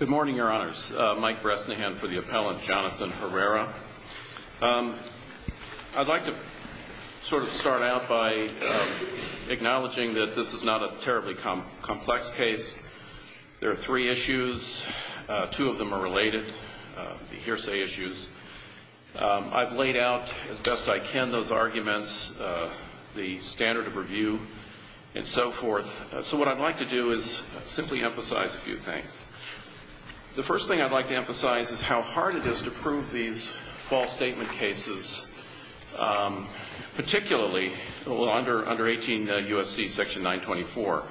Good morning, your honors. Mike Bresnahan for the appellant, Jonathan Herrera. I'd like to sort of start out by acknowledging that this is not a terribly complex case. There are three issues. Two of them are related, the hearsay issues. I've laid out, as best I can, those arguments, the standard of review and so forth. So what I'd like to do is simply emphasize a few things. The first thing I'd like to emphasize is how hard it is to prove these false statement cases, particularly under 18 U.S.C. section 924,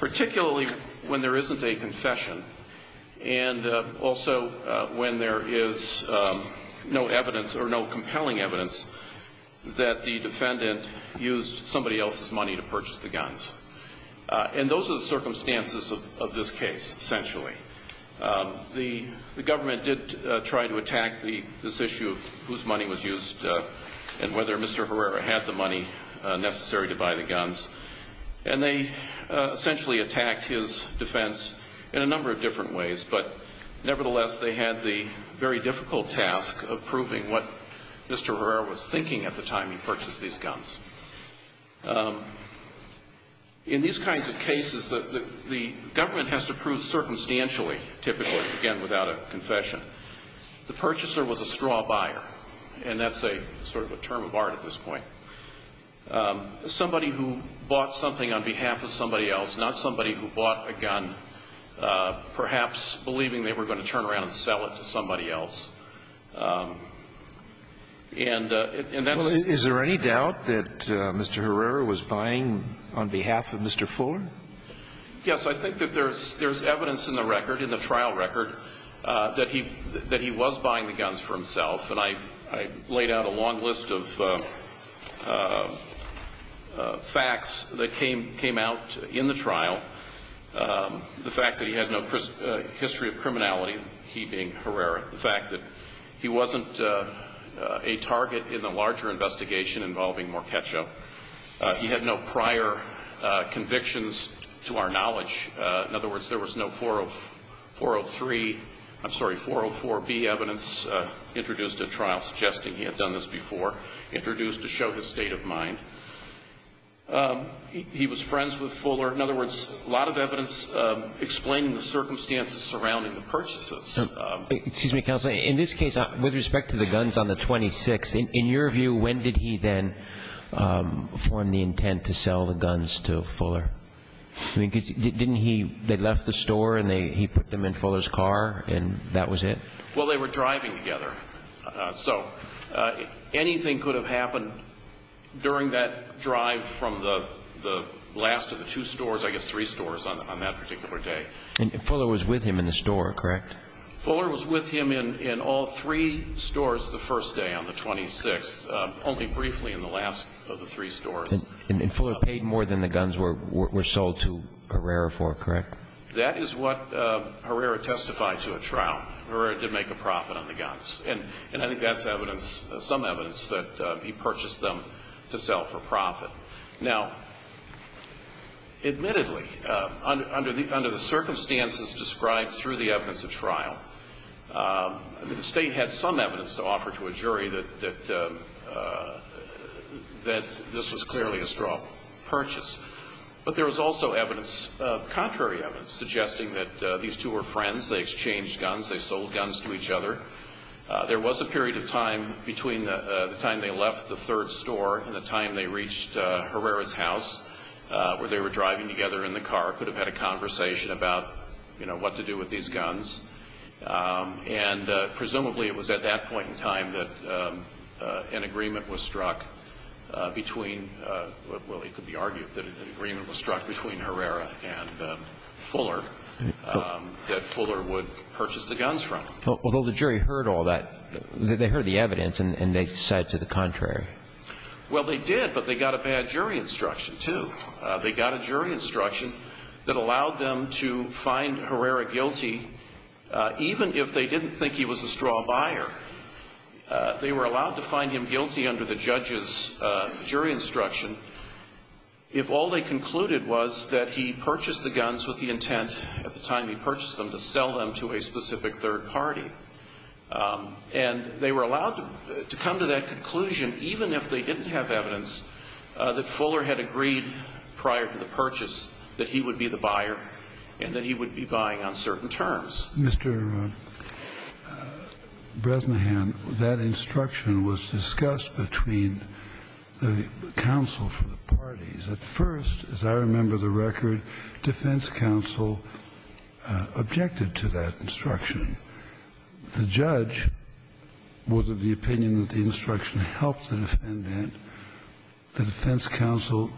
particularly when there isn't a confession and also when there is no evidence or no compelling evidence that the defendant used somebody else's money to purchase the guns. And those are the circumstances of this case, essentially. The government did try to attack this issue of whose money was used and whether Mr. Herrera had the money necessary to buy the guns, and they essentially attacked his defense in a number of different ways. But nevertheless, they had the very difficult task of proving what Mr. Herrera was thinking at the time he purchased these guns. In these kinds of cases, the government has to prove circumstantially, typically, again, without a confession. The purchaser was a straw buyer, and that's sort of a term of art at this point. Somebody who bought something on behalf of somebody else, not somebody who bought a gun, perhaps believing they were going to turn around and sell it to somebody else. And that's the way it is. Well, is there any doubt that Mr. Herrera was buying on behalf of Mr. Fuller? Yes. I think that there's evidence in the record, in the trial record, that he was buying the guns for himself. And I laid out a long list of facts that came out in the trial. The fact that he had no history of criminality, he being Herrera. The fact that he wasn't a target in the larger investigation involving Markecho. He had no prior convictions to our knowledge. In other words, there was no 403, I'm sorry, 404B evidence introduced at trial suggesting he had done this before, introduced to show his state of mind. He was friends with Fuller. In other words, a lot of evidence explaining the circumstances surrounding the purchases. Excuse me, Counselor. In this case, with respect to the guns on the 26th, in your view, when did he then form the intent to sell the guns to Fuller? Didn't he, they left the store and he put them in Fuller's car and that was it? Well, they were driving together. So anything could have happened during that drive from the last of the two stores, I guess three stores on that particular day. And Fuller was with him in the store, correct? Fuller was with him in all three stores the first day on the 26th, only briefly in the last of the three stores. And Fuller paid more than the guns were sold to Herrera for, correct? That is what Herrera testified to at trial. Herrera did make a profit on the guns. And I think that's evidence, some evidence that he purchased them to sell for profit. Now, admittedly, under the circumstances described through the evidence of trial, the State had some evidence to offer to a jury that this was clearly a straw purchase. But there was also evidence, contrary evidence, suggesting that these two were friends, they exchanged guns, they sold guns to each other. There was a period of time between the time they left the third store and the time they reached Herrera's house where they were driving together in the car, could have had a conversation about, you know, what to do with these guns. And presumably it was at that point in time that an agreement was struck between, well, it could be argued that an agreement was struck between Herrera and Fuller, that Fuller would purchase the guns from him. Although the jury heard all that, they heard the evidence and they said to the contrary. Well, they did, but they got a bad jury instruction, too. They got a jury instruction that allowed them to find Herrera guilty, even if they didn't think he was a straw buyer. They were allowed to find him guilty under the judge's jury instruction if all they concluded was that he purchased the guns with the intent, at the time he purchased them, to sell them to a specific third party. And they were allowed to come to that conclusion, even if they didn't have evidence, that Fuller had agreed prior to the purchase that he would be the buyer and that he would be buying on certain terms. Mr. Bresnahan, that instruction was discussed between the counsel for the parties. At first, as I remember the record, defense counsel objected to that instruction. The judge was of the opinion that the instruction helped the defendant. The defense counsel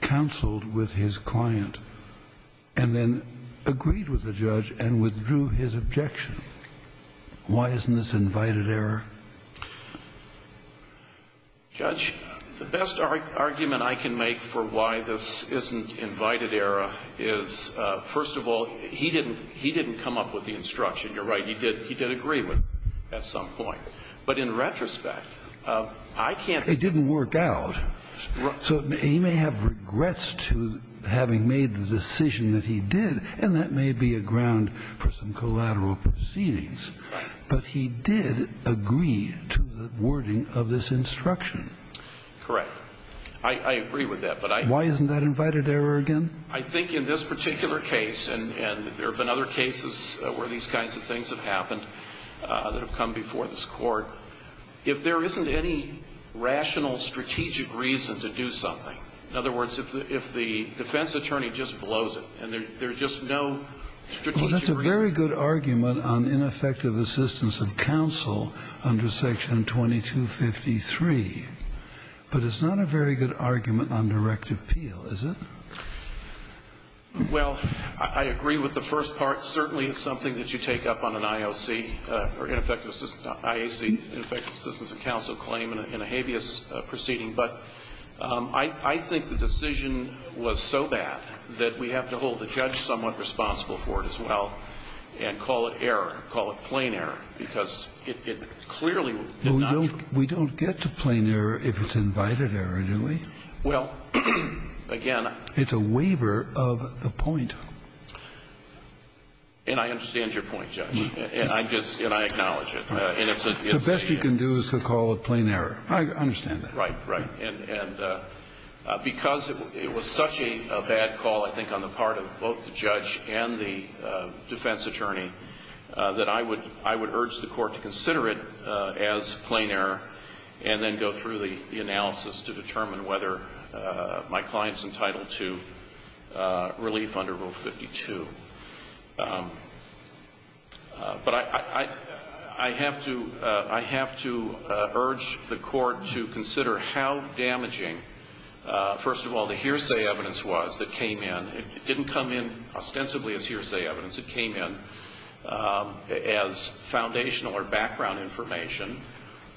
counseled with his client and then agreed with the judge and withdrew his objection. Why isn't this invited error? Judge, the best argument I can make for why this isn't invited error is, first of all, he didn't come up with the instruction. You're right. He did agree with it at some point. But in retrospect, I can't think of a reason. It didn't work out. So he may have regrets to having made the decision that he did. And that may be a ground for some collateral proceedings. Right. But he did agree to the wording of this instruction. Correct. I agree with that. Why isn't that invited error again? I think in this particular case, and there have been other cases where these kinds of things have happened that have come before this Court, if there isn't any rational, strategic reason to do something, in other words, if the defense attorney just blows it and there's just no strategic reason. Well, that's a very good argument on ineffective assistance of counsel under Section 2253. But it's not a very good argument on direct appeal, is it? Well, I agree with the first part. Certainly it's something that you take up on an IOC or ineffective assistance of counsel claim in a habeas proceeding. But I think the decision was so bad that we have to hold the judge somewhat responsible for it as well and call it error, call it plain error, because it clearly did not. We don't get to plain error if it's invited error, do we? Well, again. It's a waiver of the point. And I understand your point, Judge. And I acknowledge it. The best you can do is to call it plain error. I understand that. Right, right. And because it was such a bad call, I think, on the part of both the judge and the defense attorney, that I would urge the Court to consider it as plain error and then go through the analysis to determine whether my client's entitled to relief under Rule 52. But I have to urge the Court to consider how damaging, first of all, the hearsay evidence was that came in. It didn't come in ostensibly as hearsay evidence. It came in as foundational or background information.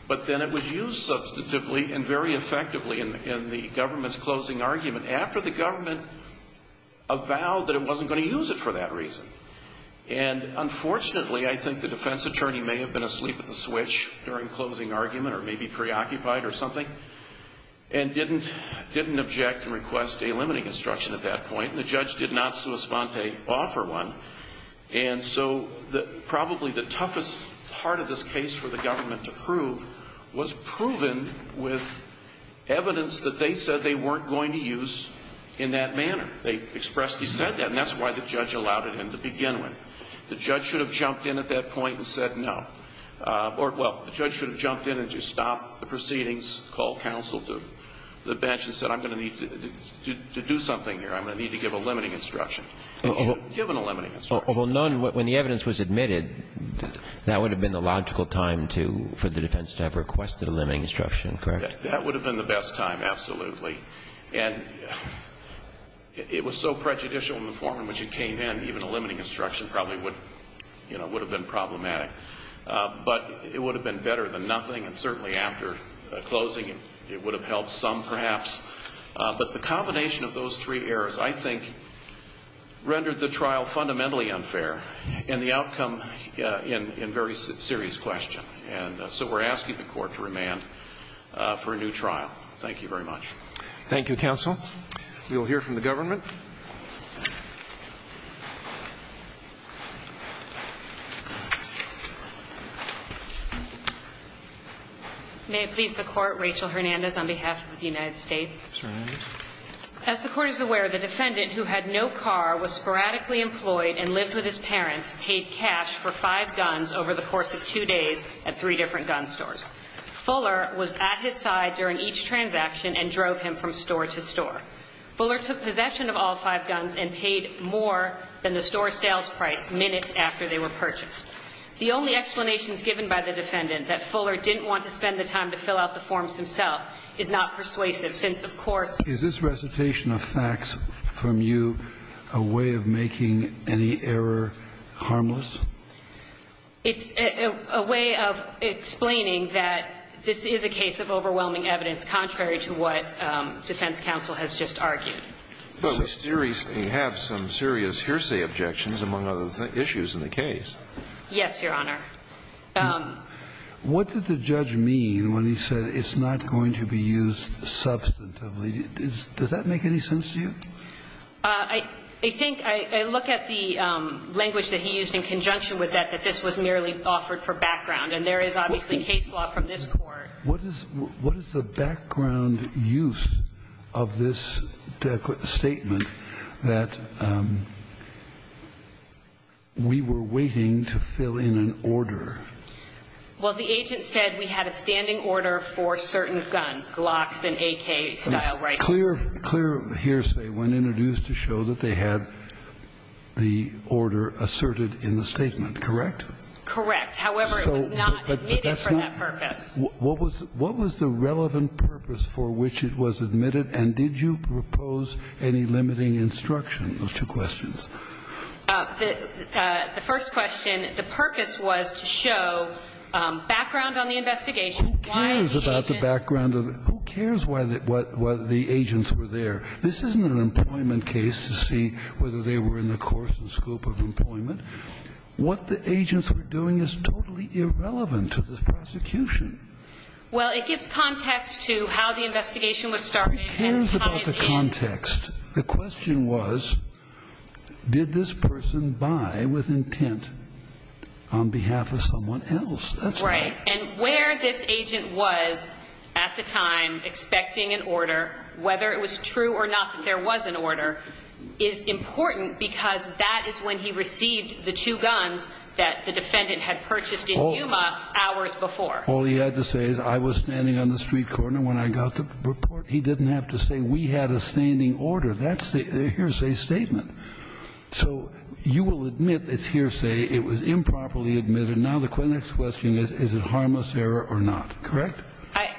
But then it was used substantively and very effectively in the government's closing argument after the government avowed that it wasn't going to use it for that reason. And unfortunately, I think the defense attorney may have been asleep at the switch during closing argument or maybe preoccupied or something and didn't object and request a limiting instruction at that point. And the judge did not sui sponte offer one. And so probably the toughest part of this case for the government to prove was proven with evidence that they said they weren't going to use in that manner. They expressed they said that. And that's why the judge allowed it in to begin with. The judge should have jumped in at that point and said no. Or, well, the judge should have jumped in and just stopped the proceedings, called counsel to the bench and said I'm going to need to do something here. I'm going to need to give a limiting instruction. He should have given a limiting instruction. Kagan. When the evidence was admitted, that would have been the logical time to, for the defense to have requested a limiting instruction, correct? That would have been the best time, absolutely. And it was so prejudicial in the form in which it came in, even a limiting instruction probably would have been problematic. But it would have been better than nothing. And certainly after closing, it would have helped some perhaps. But the combination of those three errors, I think, rendered the trial fundamentally unfair and the outcome in very serious question. And so we're asking the court to remand for a new trial. Thank you very much. Thank you, counsel. We will hear from the government. May it please the court. Rachel Hernandez on behalf of the United States. Ms. Hernandez. As the court is aware, the defendant, who had no car, was sporadically employed and lived with his parents, paid cash for five guns over the course of two days at three different gun stores. Fuller was at his side during each transaction and drove him from store to store. Fuller took possession of all five guns and paid more than the store sales price minutes after they were purchased. The only explanations given by the defendant that Fuller didn't want to spend the time to fill out the forms himself is not persuasive, since, of course, Is this recitation of facts from you a way of making any error harmless? It's a way of explaining that this is a case of overwhelming evidence, contrary to what defense counsel has just argued. But we have some serious hearsay objections, among other issues in the case. Yes, Your Honor. What did the judge mean when he said it's not going to be used substantively? Does that make any sense to you? I think I look at the language that he used in conjunction with that, that this was merely offered for background. And there is obviously case law from this Court. What is the background use of this statement that we were waiting to fill in an order? Well, the agent said we had a standing order for certain guns, Glocks and AK-style rifles. Clear, clear hearsay when introduced to show that they had the order asserted in the statement, correct? Correct. However, it was not needed for that purpose. What was the relevant purpose for which it was admitted? And did you propose any limiting instruction? Those two questions. The first question, the purpose was to show background on the investigation Who cares about the background? Who cares what the agents were there? This isn't an employment case to see whether they were in the course or scope of employment. What the agents were doing is totally irrelevant to the prosecution. Well, it gives context to how the investigation was started and how it is ended. Who cares about the context? The question was, did this person buy with intent on behalf of someone else? That's right. And where this agent was at the time expecting an order, whether it was true or not that there was an order, is important because that is when he received the two guns that the defendant had purchased in Yuma hours before. All he had to say is I was standing on the street corner when I got the report. He didn't have to say we had a standing order. That's the hearsay statement. It was improperly admitted. Now the question is, is it harmless error or not? Correct?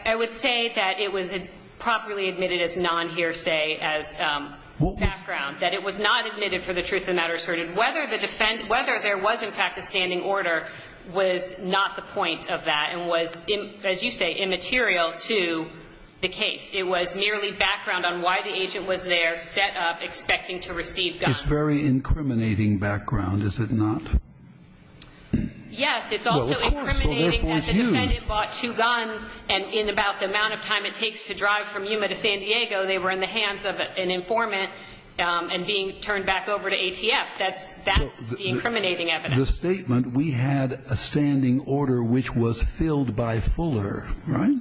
I would say that it was improperly admitted as non-hearsay as background. That it was not admitted for the truth of the matter asserted. Whether there was in fact a standing order was not the point of that and was, as you say, immaterial to the case. It was merely background on why the agent was there, set up, expecting to receive guns. It's very incriminating background, is it not? Yes. It's also incriminating that the defendant bought two guns and in about the amount of time it takes to drive from Yuma to San Diego, they were in the hands of an informant and being turned back over to ATF. That's the incriminating evidence. The statement we had a standing order which was filled by Fuller, right,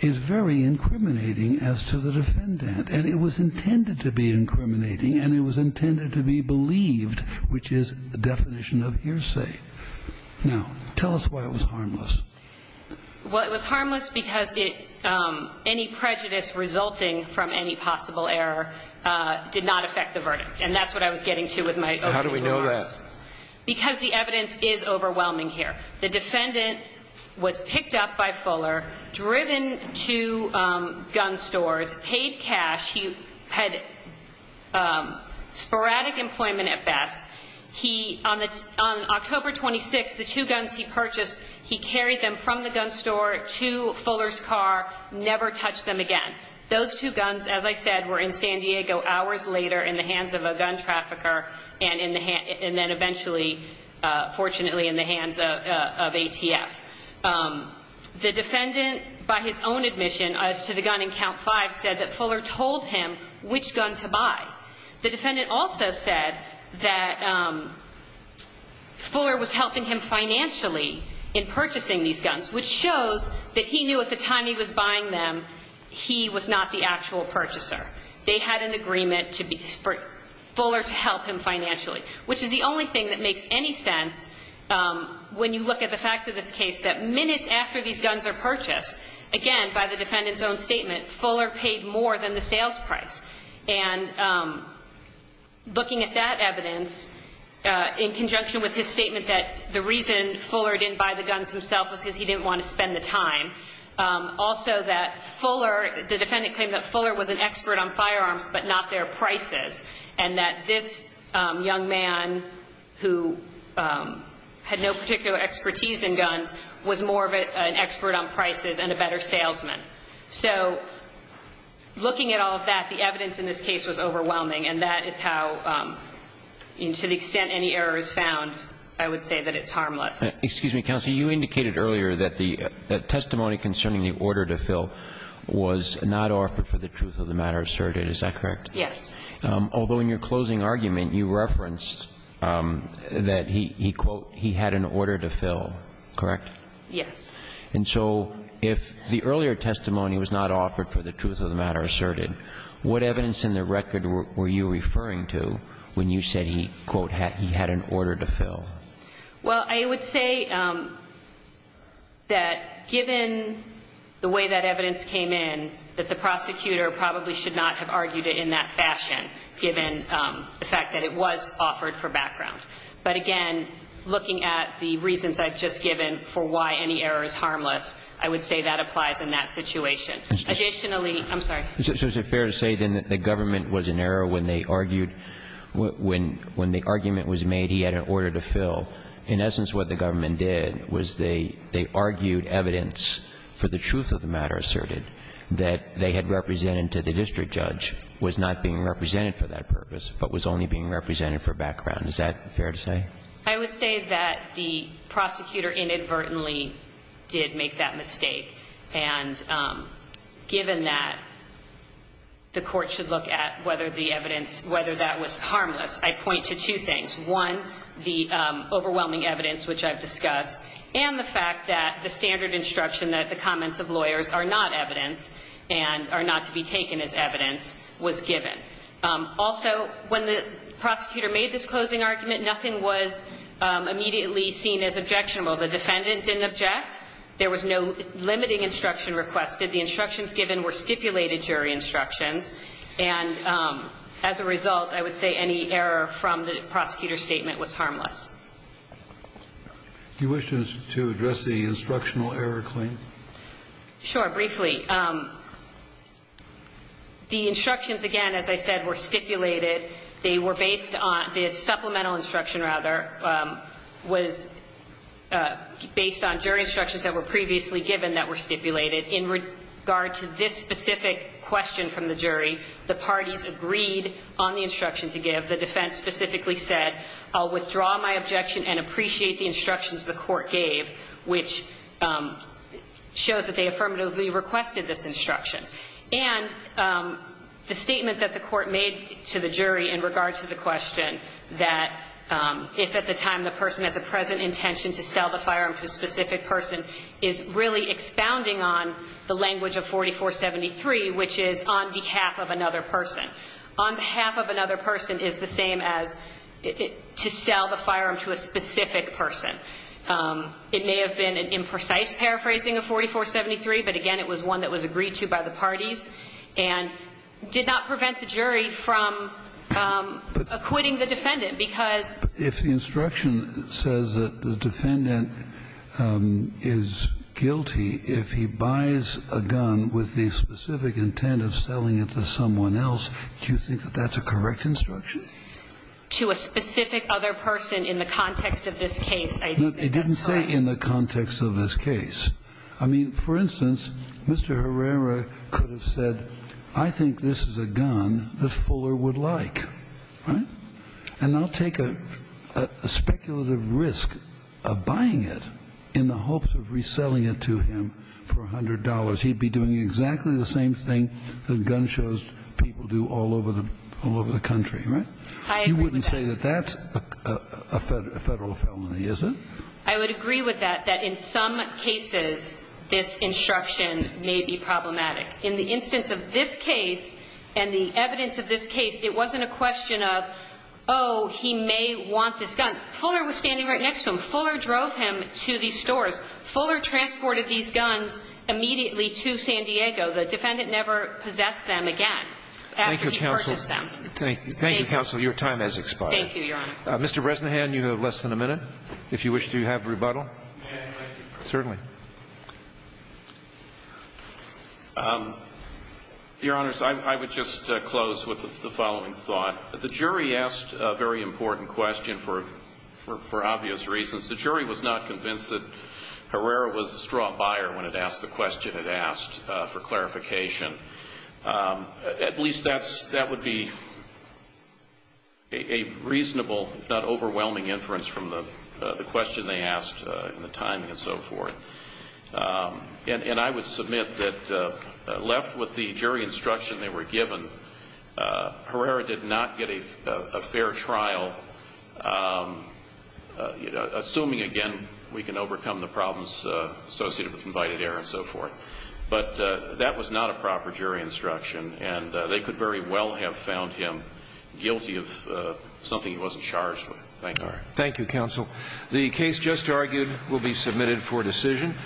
is very incriminating as to the defendant. And it was intended to be incriminating and it was intended to be believed, which is the definition of hearsay. Now, tell us why it was harmless. Well, it was harmless because any prejudice resulting from any possible error did not affect the verdict. And that's what I was getting to with my opening remarks. How do we know that? Because the evidence is overwhelming here. The defendant was picked up by Fuller, driven to gun stores, paid cash. He had sporadic employment at best. On October 26th, the two guns he purchased, he carried them from the gun store to Fuller's car, never touched them again. Those two guns, as I said, were in San Diego hours later in the hands of a gun trafficker and then eventually, fortunately, in the hands of ATF. The defendant, by his own admission, as to the gun in Count 5, said that Fuller told him which gun to buy. The defendant also said that Fuller was helping him financially in purchasing these guns, which shows that he knew at the time he was buying them, he was not the actual purchaser. They had an agreement for Fuller to help him financially, which is the only thing that makes any sense when you look at the facts of this case that minutes after these guns are purchased, again, by the defendant's own statement, Fuller paid more than the sales price. And looking at that evidence, in conjunction with his statement that the reason Fuller didn't buy the guns himself was because he didn't want to spend the time, also that Fuller, the defendant claimed that Fuller was an expert on firearms but not their prices, and that this young man who had no particular expertise in guns was more of an expert on prices and a better salesman. So looking at all of that, the evidence in this case was overwhelming, and that is how, to the extent any error is found, I would say that it's harmless. Excuse me, counsel. You indicated earlier that the testimony concerning the order to fill was not offered for the truth of the matter asserted. Is that correct? Yes. Although in your closing argument, you referenced that he, quote, he had an order to fill. Yes. And so if the earlier testimony was not offered for the truth of the matter asserted, what evidence in the record were you referring to when you said he, quote, he had an order to fill? Well, I would say that given the way that evidence came in, that the prosecutor probably should not have argued it in that fashion, given the fact that it was offered for background. But, again, looking at the reasons I've just given for why any error is harmless, I would say that applies in that situation. Additionally, I'm sorry. So is it fair to say, then, that the government was in error when they argued when the argument was made he had an order to fill? In essence, what the government did was they argued evidence for the truth of the matter asserted that they had represented to the district judge was not being represented for that purpose, but was only being represented for background. Is that fair to say? I would say that the prosecutor inadvertently did make that mistake. And given that, the Court should look at whether the evidence, whether that was harmless. I point to two things. One, the overwhelming evidence, which I've discussed, and the fact that the standard instruction that the comments of lawyers are not evidence and are not to be taken as evidence was given. Also, when the prosecutor made this closing argument, nothing was immediately seen as objectionable. The defendant didn't object. There was no limiting instruction requested. The instructions given were stipulated jury instructions. And as a result, I would say any error from the prosecutor's statement was harmless. Do you wish to address the instructional error claim? Sure. Briefly, the instructions, again, as I said, were stipulated. They were based on this supplemental instruction, rather, was based on jury instructions that were previously given that were stipulated. In regard to this specific question from the jury, the parties agreed on the instruction to give. The defense specifically said, I'll withdraw my objection and appreciate the instructions the court gave, which shows that they affirmatively requested this instruction. And the statement that the court made to the jury in regard to the question that if at the time the person has a present intention to sell the firearm to a specific person is really expounding on the language of 4473, which is on behalf of another person. On behalf of another person is the same as to sell the firearm to a specific person. It may have been an imprecise paraphrasing of 4473, but, again, it was one that was agreed to by the parties and did not prevent the jury from acquitting the defendant because. But if the instruction says that the defendant is guilty if he buys a gun with the specific intent of selling it to someone else, do you think that that's a correct instruction? To a specific other person in the context of this case, I think that's correct. It didn't say in the context of this case. I mean, for instance, Mr. Herrera could have said, I think this is a gun that Fuller would like. Right? And I'll take a speculative risk of buying it in the hopes of reselling it to him for $100. He'd be doing exactly the same thing that gun shows people do all over the country. Right? You wouldn't say that that's a Federal felony, is it? I would agree with that, that in some cases this instruction may be problematic. In the instance of this case and the evidence of this case, it wasn't a question of, oh, he may want this gun. Fuller was standing right next to him. Fuller drove him to these stores. Fuller transported these guns immediately to San Diego. The defendant never possessed them again after he purchased them. Thank you. Thank you, counsel. Thank you, Your Honor. Mr. Bresnahan, you have less than a minute, if you wish to have rebuttal. Certainly. Your Honors, I would just close with the following thought. The jury asked a very important question for obvious reasons. The jury was not convinced that Herrera was a straw buyer when it asked the question it asked for clarification. At least that would be a reasonable, if not overwhelming inference from the question they asked and the timing and so forth. And I would submit that left with the jury instruction they were given, Herrera did not get a fair trial, assuming, again, we can overcome the problems associated with invited error and so forth. But that was not a proper jury instruction and they could very well have found him guilty of something he wasn't charged with. Thank you. Thank you, counsel. The case just argued will be submitted for decision.